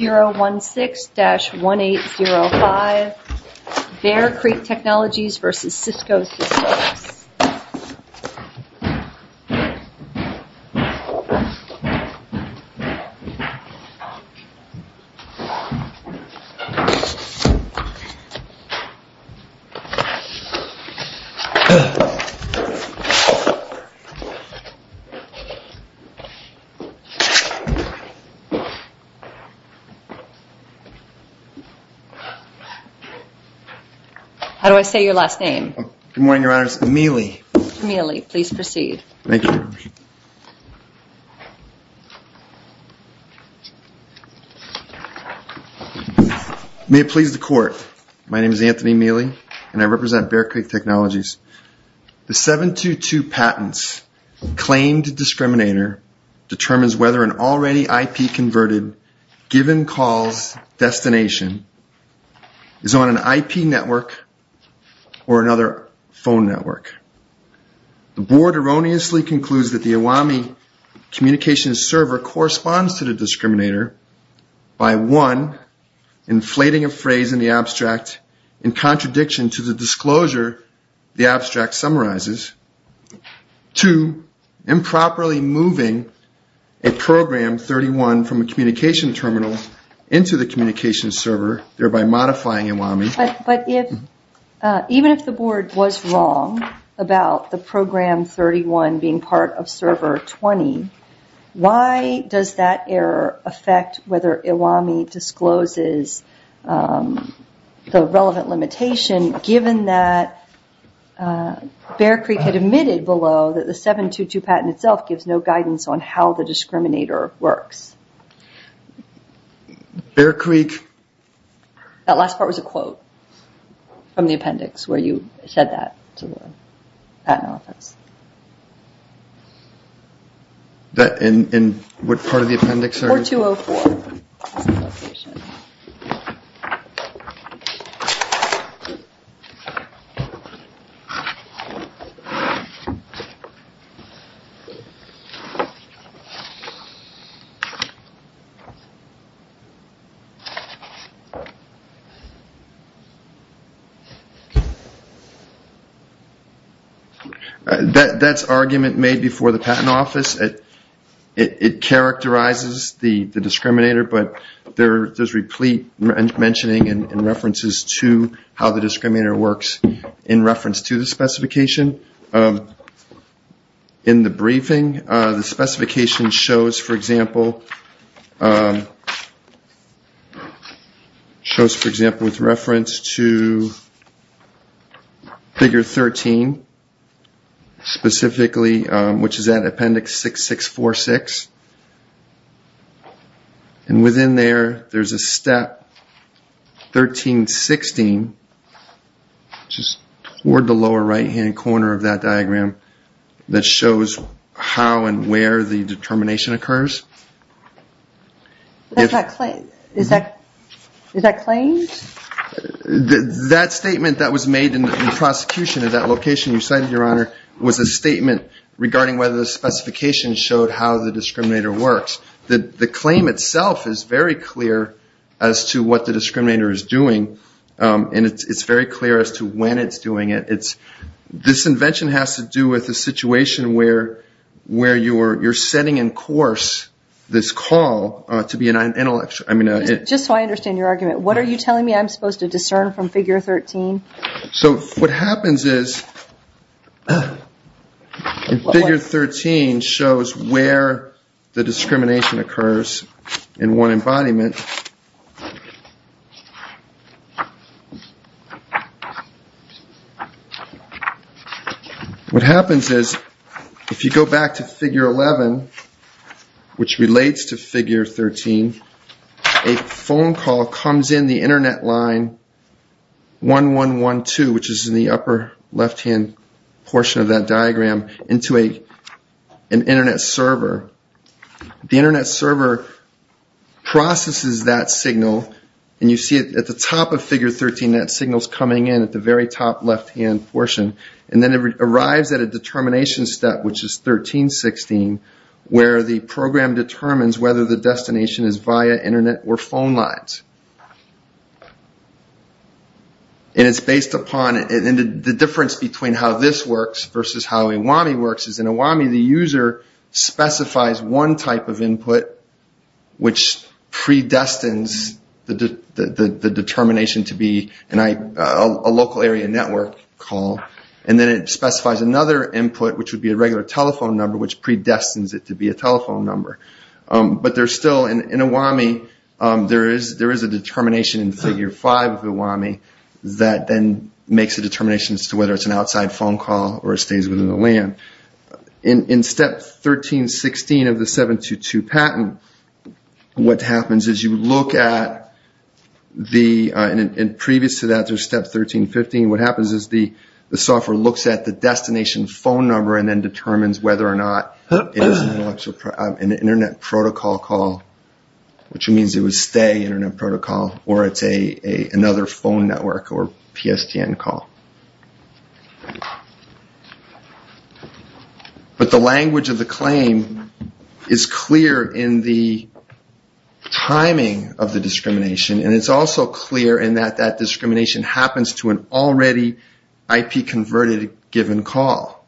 016-1805, Bear Creek Technologies v. Cisco Systems. May it please the Court, my name is Anthony Mealy and I represent Bear Creek Technologies. The 722 patents claimed discriminator determines whether an already IP-converted given calls destination is on an IP network or another phone network. The Board erroneously concludes that the AWAMI communications server corresponds to the discriminator by, one, inflating a program 31 from a communication terminal into the communications server, thereby modifying AWAMI. But even if the Board was wrong about the program 31 being part of server 20, why does that error affect whether AWAMI discloses the relevant limitation given that Bear Creek had admitted below that the 722 patent itself gives no guidance on how the discriminator works? That last part was a quote from the appendix where you said that to the patent office. In what part of the appendix? 4204. That's argument made before the patent office. It characterizes the discriminator, but there's replete mentioning and references to how the discriminator works in reference to the specification. In the briefing, the specification shows, for example, with reference to figure 13, specifically, which is corner of that diagram that shows how and where the determination occurs. Is that claimed? That statement that was made in the prosecution of that location you cited, Your Honor, was a statement regarding whether the specification showed how the discriminator works. The claim itself is very clear as to what the discriminator is doing, and it's very clear as to when it's doing it. This invention has to do with a situation where you're setting in course this call to be an intellectual. Just so I understand your argument, what are you telling me I'm supposed to discern from figure 13? So what happens is figure 13 shows where the discrimination occurs in one embodiment. What happens is if you go back to figure 11, which relates to figure 13, a phone call comes in the upper left-hand portion of that diagram into an Internet server. The Internet server processes that signal, and you see at the top of figure 13 that signal's coming in at the very top left-hand portion. And then it arrives at a determination step, which is 13-16, where the program determines whether the discrimination occurs. The difference between how this works versus how IWAMI works is in IWAMI the user specifies one type of input which predestines the determination to be a local area network call, and then it specifies another input, which would be a regular telephone number, which predestines it to be a telephone number. But there's still, in IWAMI there is a determination in figure 5 of IWAMI that then makes a determination as to whether it's an outside phone call or it stays within the LAN. In step 13-16 of the 722 patent, what happens is you look at the, and previous to that there's step 13-15, what happens is the software looks at the destination phone number and then determines whether or not it is an internet protocol call, which means it would stay internet protocol, or it's another phone network or PSTN call. But the language of the claim is clear in the timing of the discrimination, and it's also clear in that discrimination happens to an already IP converted given call.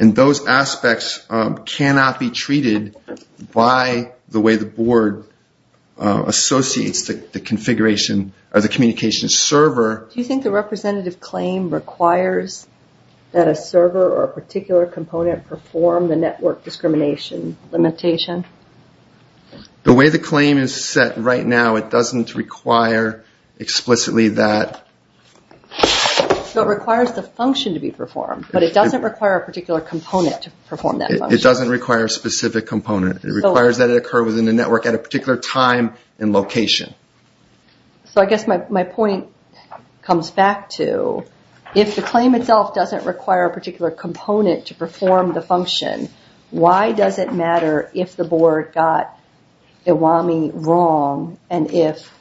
And those aspects cannot be treated by the way the board associates the configuration of the communications server. Do you think the representative claim requires that a server or a particular component perform the network discrimination limitation? The way the claim is set right now, it doesn't require explicitly that. So it requires the function to be performed, but it doesn't require a particular component to perform that function? It doesn't require a specific component. It requires that it occur within the network at a particular time and location. So I guess my point comes back to, if the claim itself doesn't require a particular component to perform the function, why does it matter if the board got Iwami wrong and if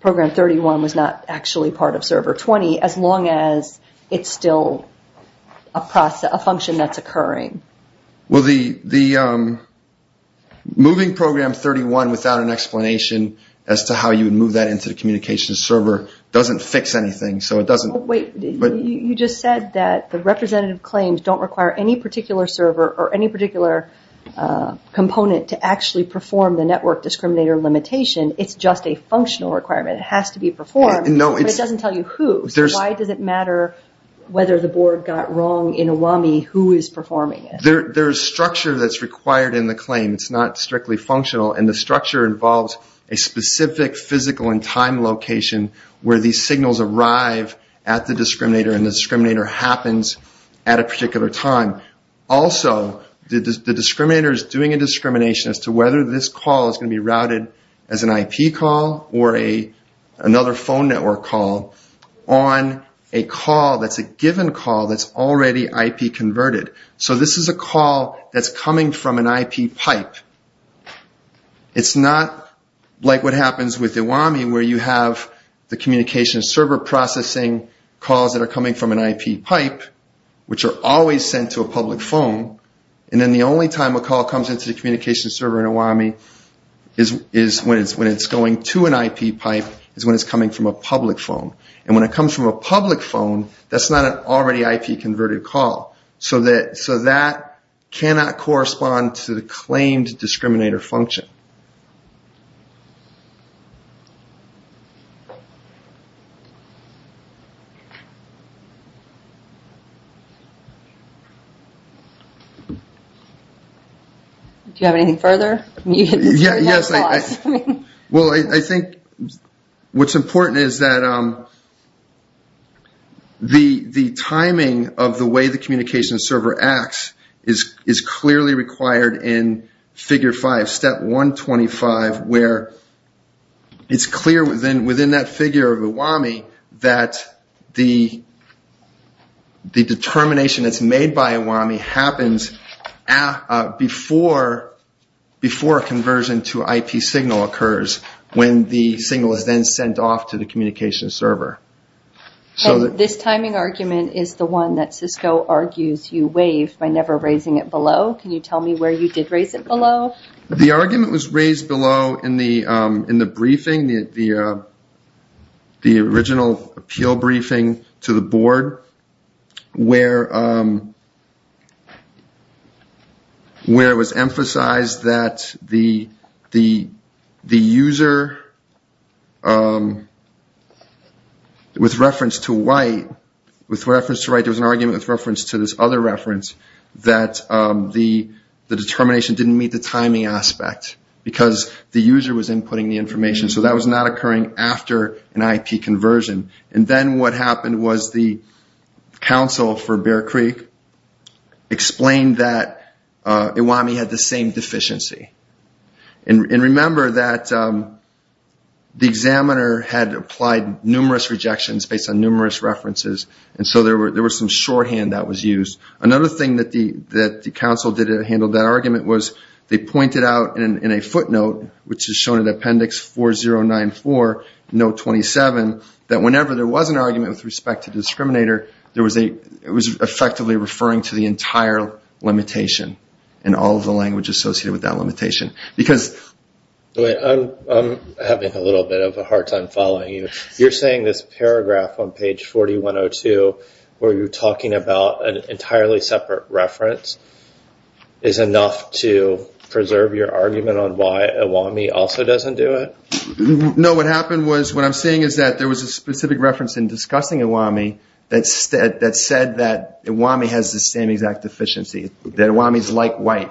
Program 31 was not actually part of Server 20, as long as it's still a function that's occurring? Well, moving Program 31 without an explanation as to how you would move that into the communications server doesn't fix anything, so it doesn't... But wait, you just said that the representative claims don't require any particular server or any particular component to actually perform the network discriminator limitation. It's just a functional requirement. It has to be performed, but it doesn't tell you who. So why does it matter whether the board got wrong in Iwami, who is performing it? There's structure that's required in the claim. It's not strictly functional, and the structure involves a specific physical and time location where these signals arrive at the discriminator and the discriminator happens at a particular time. Also, the discriminator is doing a discrimination as to whether this call is going to be routed as an IP call or another phone network call on a call that's a given call that's already IP converted. So this is a call that's coming from an IP pipe. It's not like what happens with Iwami where you have the communications server processing calls that are coming from an IP pipe, which are always sent to a public phone, and then the only time a call comes into the communications server in Iwami is when it's going to an IP pipe is when it's coming from a public phone. And when it comes from a public phone, that's not an already IP converted call. So that cannot correspond to the claimed discriminator function. Do you have anything further? Yes. Well, I think what's important is that the timing of the way the communications server acts is clearly required in figure 125 where it's clear within that figure of Iwami that the determination that's made by Iwami happens before conversion to IP signal occurs when the signal is then sent off to the communications server. This timing argument is the one that Cisco argues you waived by never raising it below. Can you tell me where you did raise it below? The argument was raised below in the briefing, the original appeal briefing to the board, where it was emphasized that the user, with reference to White, there was an argument with reference to this other reference that the determination didn't meet the timing aspect because the user was inputting the information. So that was not occurring after an IP conversion. And then what happened was the counsel for Bear Creek explained that Iwami had the same deficiency. And remember that the examiner had applied numerous rejections based on numerous references and so there was some shorthand that was used. Another thing that the counsel did to handle that argument was they pointed out in a footnote, which is shown in appendix 4094, note 27, that whenever there was an argument with respect to the discriminator, it was effectively referring to the entire limitation and all of the language associated with that limitation. I'm having a little bit of a hard time following you. You're saying this paragraph on page 4102 where you're talking about an entirely separate reference is enough to preserve your argument on why Iwami also doesn't do it? No, what happened was, what I'm saying is that there was a specific reference in discussing Iwami that said that Iwami has the same exact deficiency, that Iwami is like White.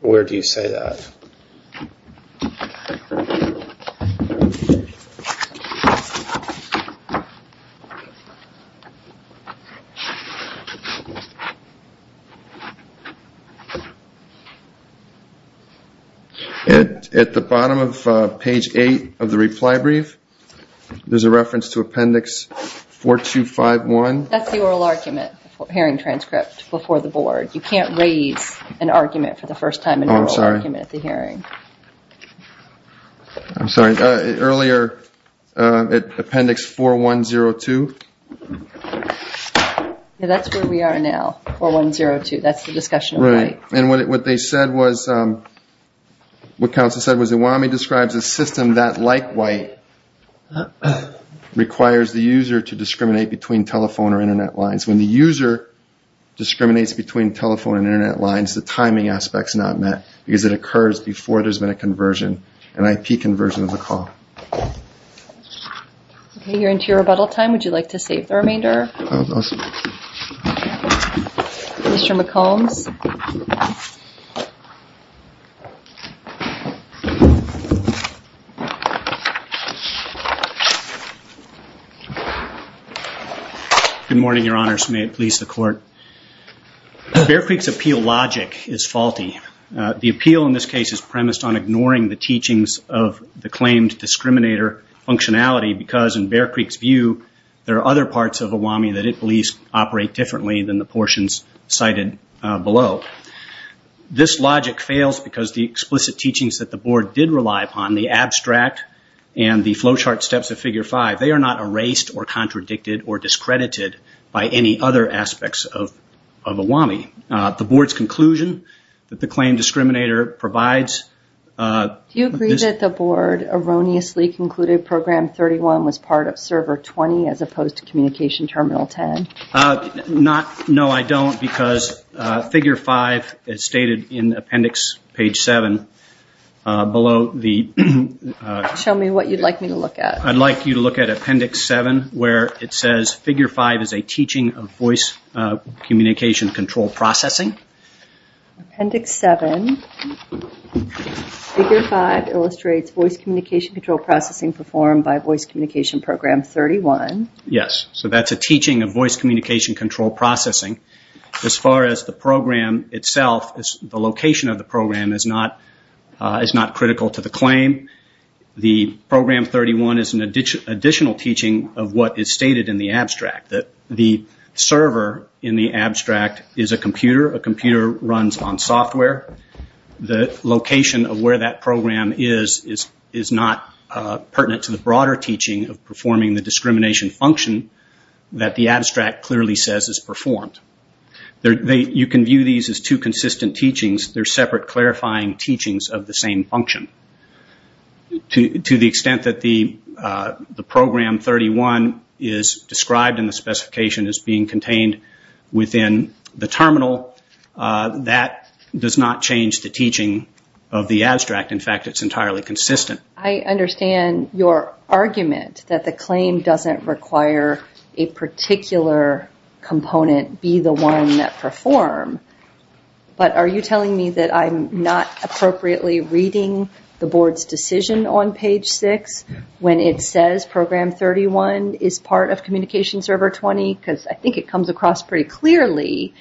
Where do you say that? At the bottom of page 8 of the reply brief, there's a reference to appendix 4251. That's the oral argument, hearing transcript before the board. You can't raise an argument for the first time in oral argument at the hearing. I'm sorry, earlier appendix 4102? That's where we are now, 4102. That's the discussion of White. And what they said was, what counsel said was Iwami describes a system that, like White, requires the user to discriminate between telephone or internet lines. When the user discriminates between telephone and internet lines, the timing aspect is not met because it occurs before there's been a conversion, an IP conversion of the call. Okay, you're into your rebuttal time. Would you like to save the remainder? Mr. McCombs? Good morning, Your Honors. May it please the Court. Bear Creek's appeal logic is faulty. The appeal in this case is premised on ignoring the teachings of the claimed discriminator functionality of Iwami because in Bear Creek's view, there are other parts of Iwami that it believes operate differently than the portions cited below. This logic fails because the explicit teachings that the board did rely upon, the abstract and the flow chart steps of Figure 5, they are not erased or contradicted or discredited by any other aspects of Iwami. The board's conclusion that the claimed discriminator provides... Page 1 was part of server 20 as opposed to communication terminal 10. No, I don't because Figure 5 is stated in appendix page 7 below the... Show me what you'd like me to look at. I'd like you to look at appendix 7 where it says, Figure 5 is a teaching of voice communication control processing. Appendix 7. Figure 5 illustrates voice communication control processing performed by voice communication program 31. Yes, so that's a teaching of voice communication control processing. As far as the program itself, the location of the program is not critical to the claim. The program 31 is an additional teaching of what is stated in the abstract. The server in the abstract is a computer. A computer runs on software. The location of where that program is is not pertinent to the broader teaching of performing the discrimination function that the abstract clearly says is performed. You can view these as two consistent teachings. They're separate clarifying teachings of the same function. To the extent that the program 31 is described in the specification as being contained within the terminal, that does not change the teaching of the abstract. In fact, it's entirely consistent. I understand your argument that the claim doesn't require a particular component be the one that perform. But are you telling me that I'm not appropriately reading the board's decision on page 6 when it says program 31 is part of communication server 20? Because I think it comes across pretty clearly.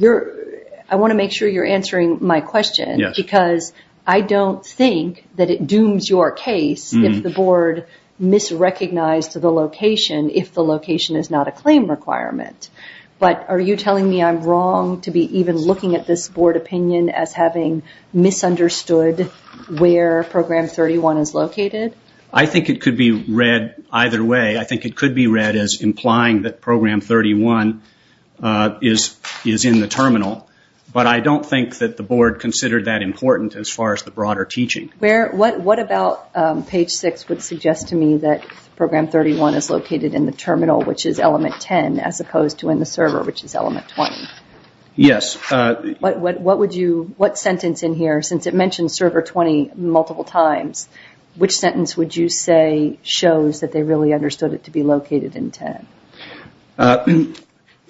I want to make sure you're answering my question. Because I don't think that it dooms your case if the board misrecognized the location if the location is not a claim requirement. But are you telling me I'm wrong to be even looking at this board opinion as having misunderstood where program 31 is located? I think it could be read either way. I think it could be read as implying that program 31 is in the terminal. But I don't think that the board considered that important as far as the broader teaching. What about page 6 would suggest to me that program 31 is located in the terminal, which is element 10, as opposed to in the server, which is element 20? Yes. What sentence in here, since it mentions server 20 multiple times, which sentence would you say shows that they really understood it to be located in 10?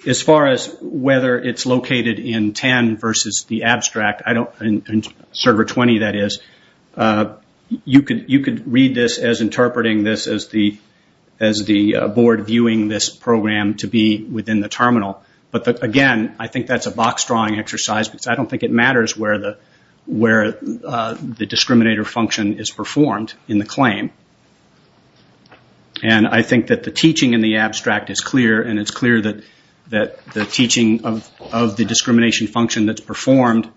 As far as whether it's located in 10 versus the abstract, server 20 that is, you could read this as interpreting this as the board viewing this program to be within the terminal. But again, I think that's a box-drawing exercise because I don't think it matters where the discriminator function is performed in the claim. I think that the teaching in the abstract is clear, and it's clear that the teaching of the discrimination function that's performed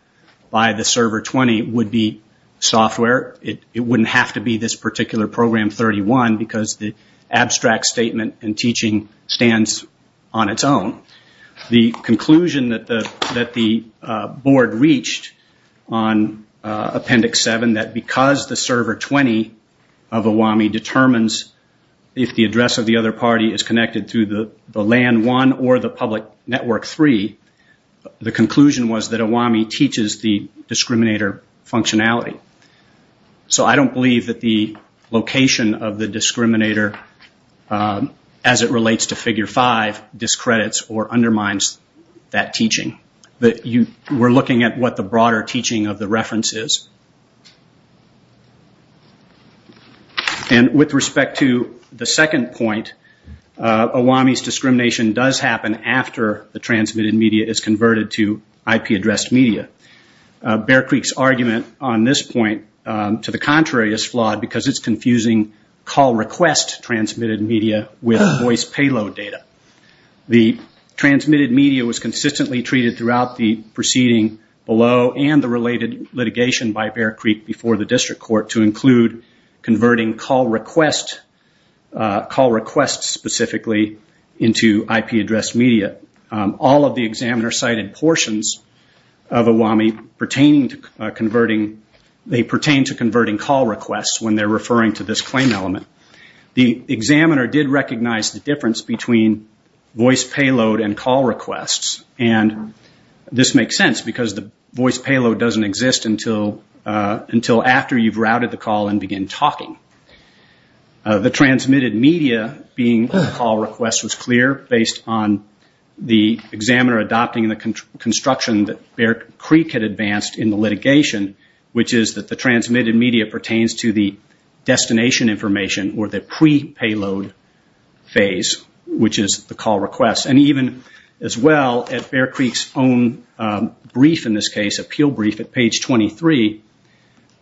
by the server 20 would be software. It wouldn't have to be this particular program 31 because the abstract statement in teaching stands on its own. The conclusion that the board reached on appendix 7, that because the server 20 of AWAMI determines if the address of the other party is connected through the LAN 1 or the public network 3, the conclusion was that AWAMI teaches the discriminator functionality. So I don't believe that the location of the discriminator, as it relates to figure 5, discredits or undermines that teaching. We're looking at what the broader teaching of the reference is. With respect to the second point, AWAMI's discrimination does happen after the transmitted media is converted to IP-addressed media. Bear Creek's argument on this point, to the contrary, is flawed because it's confusing call request transmitted media with voice payload data. The transmitted media was consistently treated throughout the proceeding below and the related litigation by Bear Creek before the district court to include converting call requests specifically into IP-addressed media. All of the examiner-cited portions of AWAMI pertain to converting call requests when they're referring to this claim element. The examiner did recognize the difference between voice payload and call requests. And this makes sense because the voice payload doesn't exist until after you've routed the call and begin talking. The transmitted media being a call request was clear based on the examiner adopting the construction that Bear Creek had advanced in the litigation, which is that the transmitted media pertains to the destination information or the pre-payload phase, which is the call request. And even as well, at Bear Creek's own brief in this case, appeal brief at page 23,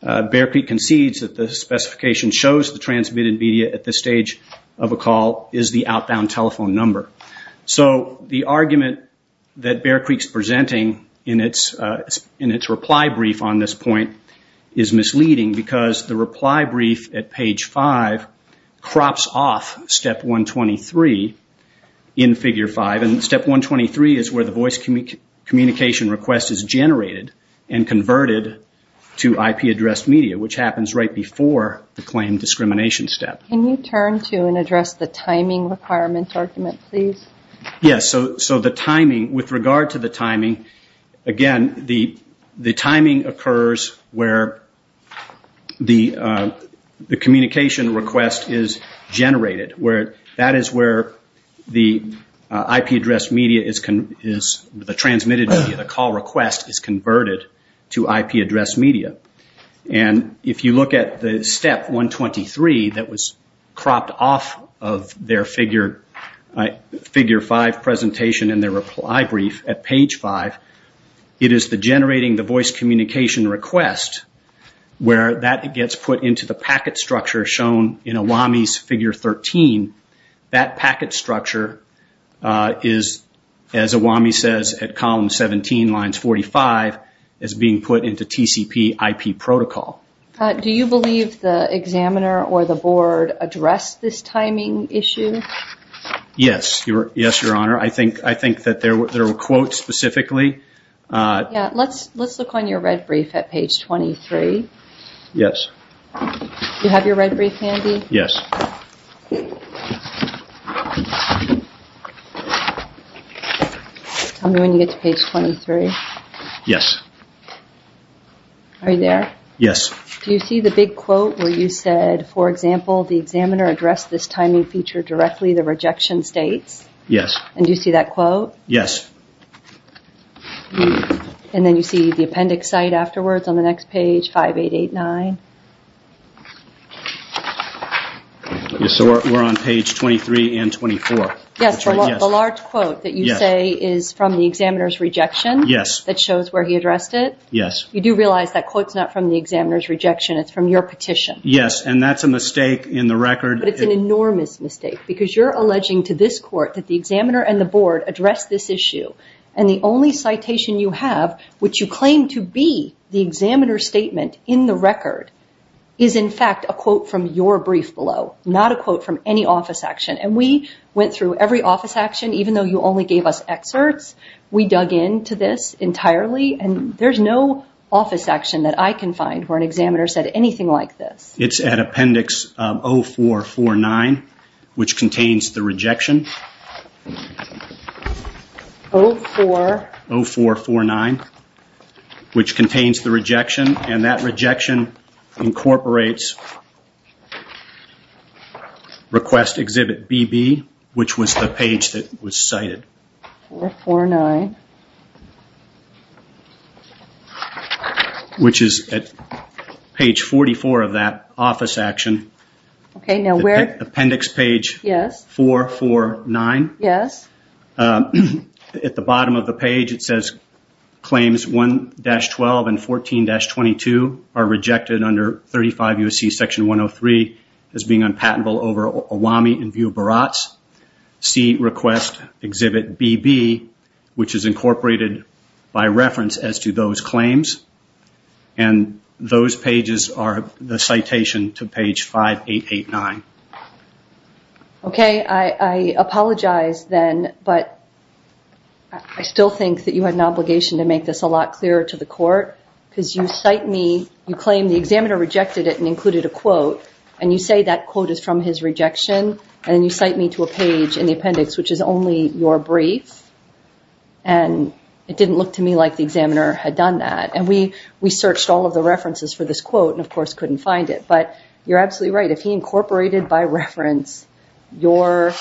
Bear Creek concedes that the specification shows the transmitted media at this stage of a call is the outbound telephone number. So the argument that Bear Creek's presenting in its reply brief on this point is misleading because the reply brief at page 5 crops off step 123 in figure 5. And step 123 is where the voice communication request is generated and converted to IP-addressed media, which happens right before the claim discrimination step. Can you turn to and address the timing requirement argument, please? Yes, so the timing, with regard to the timing, again, the timing occurs where the communication request is generated. That is where the transmitted media, the call request, is converted to IP-addressed media. And if you look at the step 123 that was cropped off of their figure 5 presentation and their reply brief at page 5, it is generating the voice communication request where that gets put into the packet structure shown in AWAMI's figure 13. That packet structure is, as AWAMI says at column 17, lines 45, is being put into TCP IP protocol. Do you believe the examiner or the board addressed this timing issue? Yes, Your Honor. I think that there were quotes specifically. Let's look on your red brief at page 23. Yes. Do you have your red brief handy? Yes. Tell me when you get to page 23. Yes. Are you there? Yes. Do you see the big quote where you said, for example, the examiner addressed this timing feature directly, the rejection states? Yes. And do you see that quote? Yes. And then you see the appendix site afterwards on the next page, 5889. So we're on page 23 and 24. Yes, the large quote that you say is from the examiner's rejection. Yes. That shows where he addressed it. Yes. You do realize that quote's not from the examiner's rejection, it's from your petition. Yes, and that's a mistake in the record. But it's an enormous mistake because you're alleging to this court that the examiner and the board addressed this issue and the only citation you have, which you claim to be the examiner's statement in the record, is in fact a quote from your brief below, not a quote from any office action. And we went through every office action, even though you only gave us excerpts. We dug into this entirely, and there's no office action that I can find where an examiner said anything like this. It's at appendix 0449, which contains the rejection. 0449, which contains the rejection, and that rejection incorporates request exhibit BB, which was the page that was cited. 0449. Which is at page 44 of that office action. Okay, now where? Appendix page 449. Yes. At the bottom of the page it says claims 1-12 and 14-22 are rejected under 35 U.S.C. section 103 as being unpatentable over Olami in view of Barats. See request exhibit BB, which is incorporated by reference as to those claims. And those pages are the citation to page 5889. Okay, I apologize then, but I still think that you had an obligation to make this a lot clearer to the court because you cite me, you claim the examiner rejected it and included a quote, and you say that quote is from his rejection, and then you cite me to a page in the appendix which is only your brief, and it didn't look to me like the examiner had done that. And we searched all of the references for this quote and, of course, couldn't find it. But you're absolutely right. If he incorporated by reference your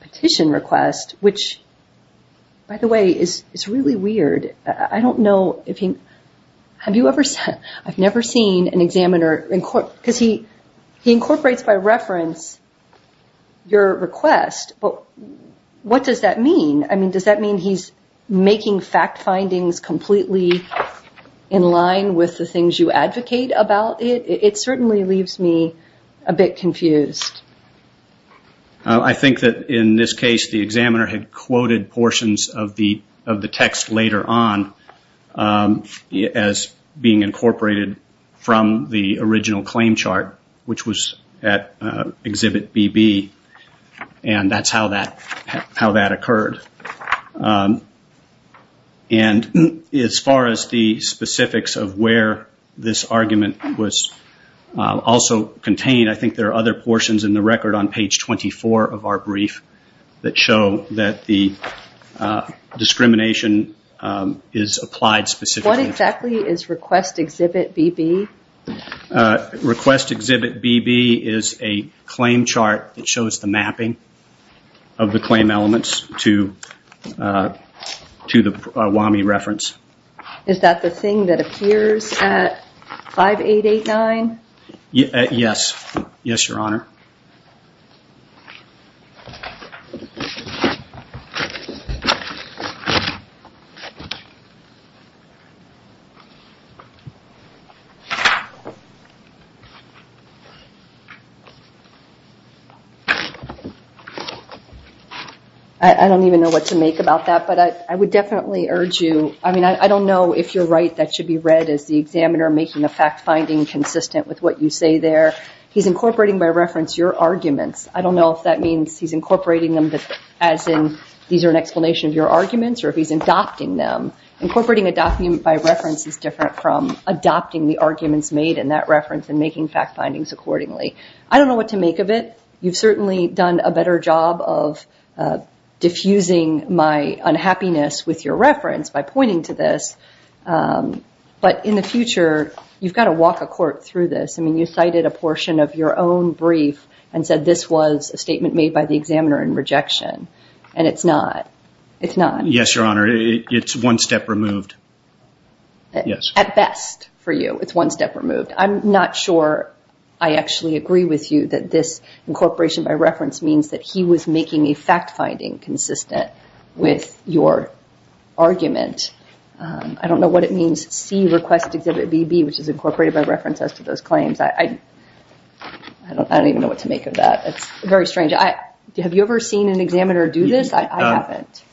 petition request, which, by the way, is really weird. I don't know if he, have you ever, I've never seen an examiner, because he incorporates by reference your request, but what does that mean? I mean, does that mean he's making fact findings completely in line with the things you advocate about it? It certainly leaves me a bit confused. I think that in this case the examiner had quoted portions of the text later on as being incorporated from the original claim chart, which was at Exhibit BB, and that's how that occurred. And as far as the specifics of where this argument was also contained, I think there are other portions in the record on page 24 of our brief that show that the discrimination is applied specifically. What exactly is Request Exhibit BB? Request Exhibit BB is a claim chart that shows the mapping of the claim elements to the WAMI reference. Is that the thing that appears at 5889? Yes, Your Honor. I don't even know what to make about that, but I would definitely urge you, I mean, I don't know if you're right that should be read as the examiner making a fact finding consistent with what you say there. He's incorporating by reference your arguments. I don't know if that means he's incorporating them as in these are an explanation of your arguments or if he's adopting them. Incorporating a document by reference is different from adopting the arguments made in that reference and making fact findings accordingly. I don't know what to make of it. You've certainly done a better job of diffusing my unhappiness with your reference by pointing to this, but in the future you've got to walk a court through this. I mean, you cited a portion of your own brief and said this was a statement made by the examiner in rejection, and it's not. Yes, Your Honor, it's one step removed. At best for you it's one step removed. I'm not sure I actually agree with you that this incorporation by reference means that he was making a fact finding consistent with your argument. I don't know what it means, see request exhibit BB, which is incorporated by reference as to those claims. I don't even know what to make of that. It's very strange. Have you ever seen an examiner do this?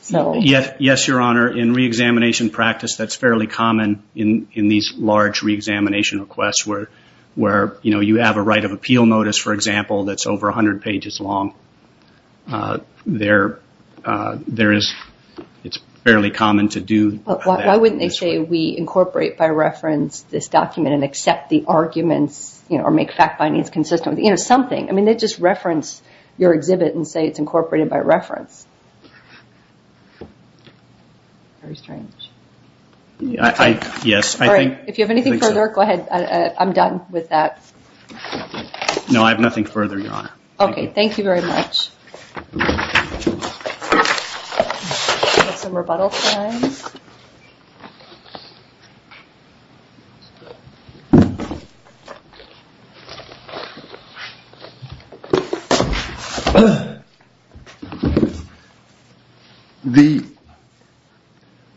Yes, Your Honor, in reexamination practice that's fairly common in these large reexamination requests where you have a right of appeal notice, for example, that's over 100 pages long. It's fairly common to do that. Why wouldn't they say we incorporate by reference this document and accept the arguments or make fact findings consistent with something? I mean, they just reference your exhibit and say it's incorporated by reference. Very strange. If you have anything further, go ahead, I'm done with that. No, I have nothing further, Your Honor. Okay, thank you very much.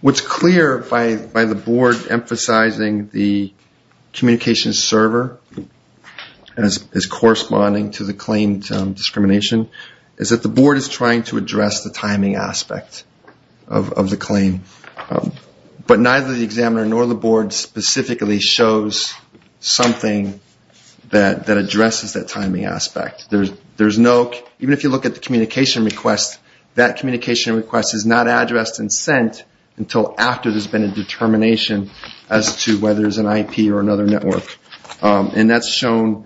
What's clear by the board emphasizing the communication server as corresponding to the claim discrimination is that the board is trying to address the timing aspect of the claim. But neither the examiner nor the board specifically shows something that addresses that timing aspect. Even if you look at the communication request, that communication request is not addressed and sent until after there's been a determination as to whether there's an IP or another network. And that's shown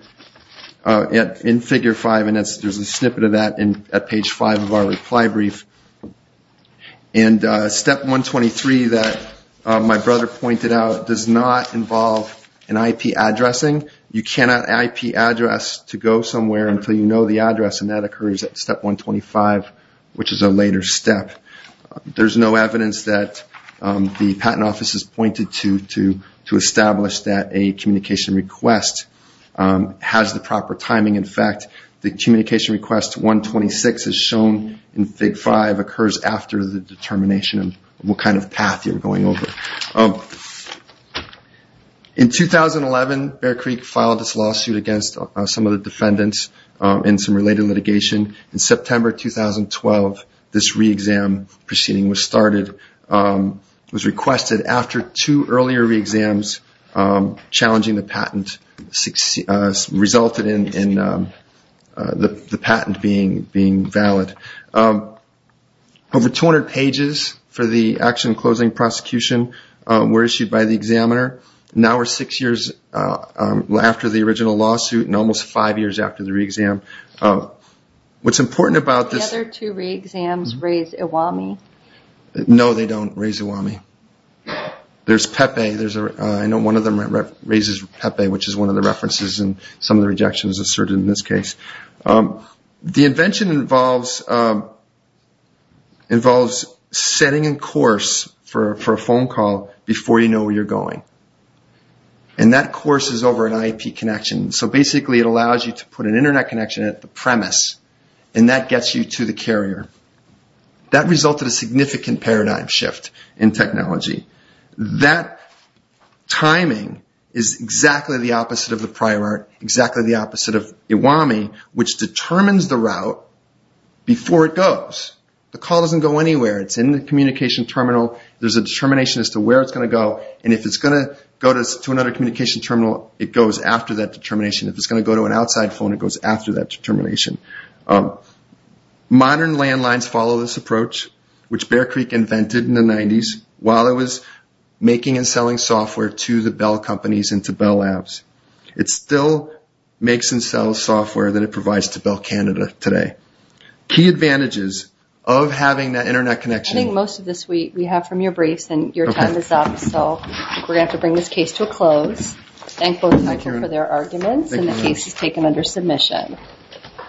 in Figure 5, and there's a snippet of that at page 5 of our reply brief. And Step 123 that my brother pointed out does not involve an IP addressing. You cannot IP address to go somewhere until you know the address, and that occurs at Step 125, which is a later step. In fact, the communication request 126 is shown in Fig 5, occurs after the determination of what kind of path you're going over. In 2011, Bear Creek filed this lawsuit against some of the defendants in some related litigation. In September 2012, this reexam proceeding was started, was requested after two earlier reexams challenging the patent, resulted in the patent being valid. Over 200 pages for the action closing prosecution were issued by the examiner. Now we're six years after the original lawsuit and almost five years after the reexam. What's important about this... No, they don't raise Iwami. There's Pepe, I know one of them raises Pepe, which is one of the references in some of the rejections asserted in this case. The invention involves setting a course for a phone call before you know where you're going. And that course is over an IP connection. So basically it allows you to put an internet connection at the premise and that gets you to the carrier. That resulted in a significant paradigm shift in technology. That timing is exactly the opposite of the prior art, exactly the opposite of Iwami, which determines the route before it goes. The call doesn't go anywhere, it's in the communication terminal, there's a determination as to where it's going to go, and if it's going to go to another communication terminal, it goes after that determination. If it's going to go to an outside phone, it goes after that determination. Modern landlines follow this approach, which Bear Creek invented in the 90s, while it was making and selling software to the Bell companies and to Bell Labs. It still makes and sells software that it provides to Bell Canada today. Key advantages of having that internet connection...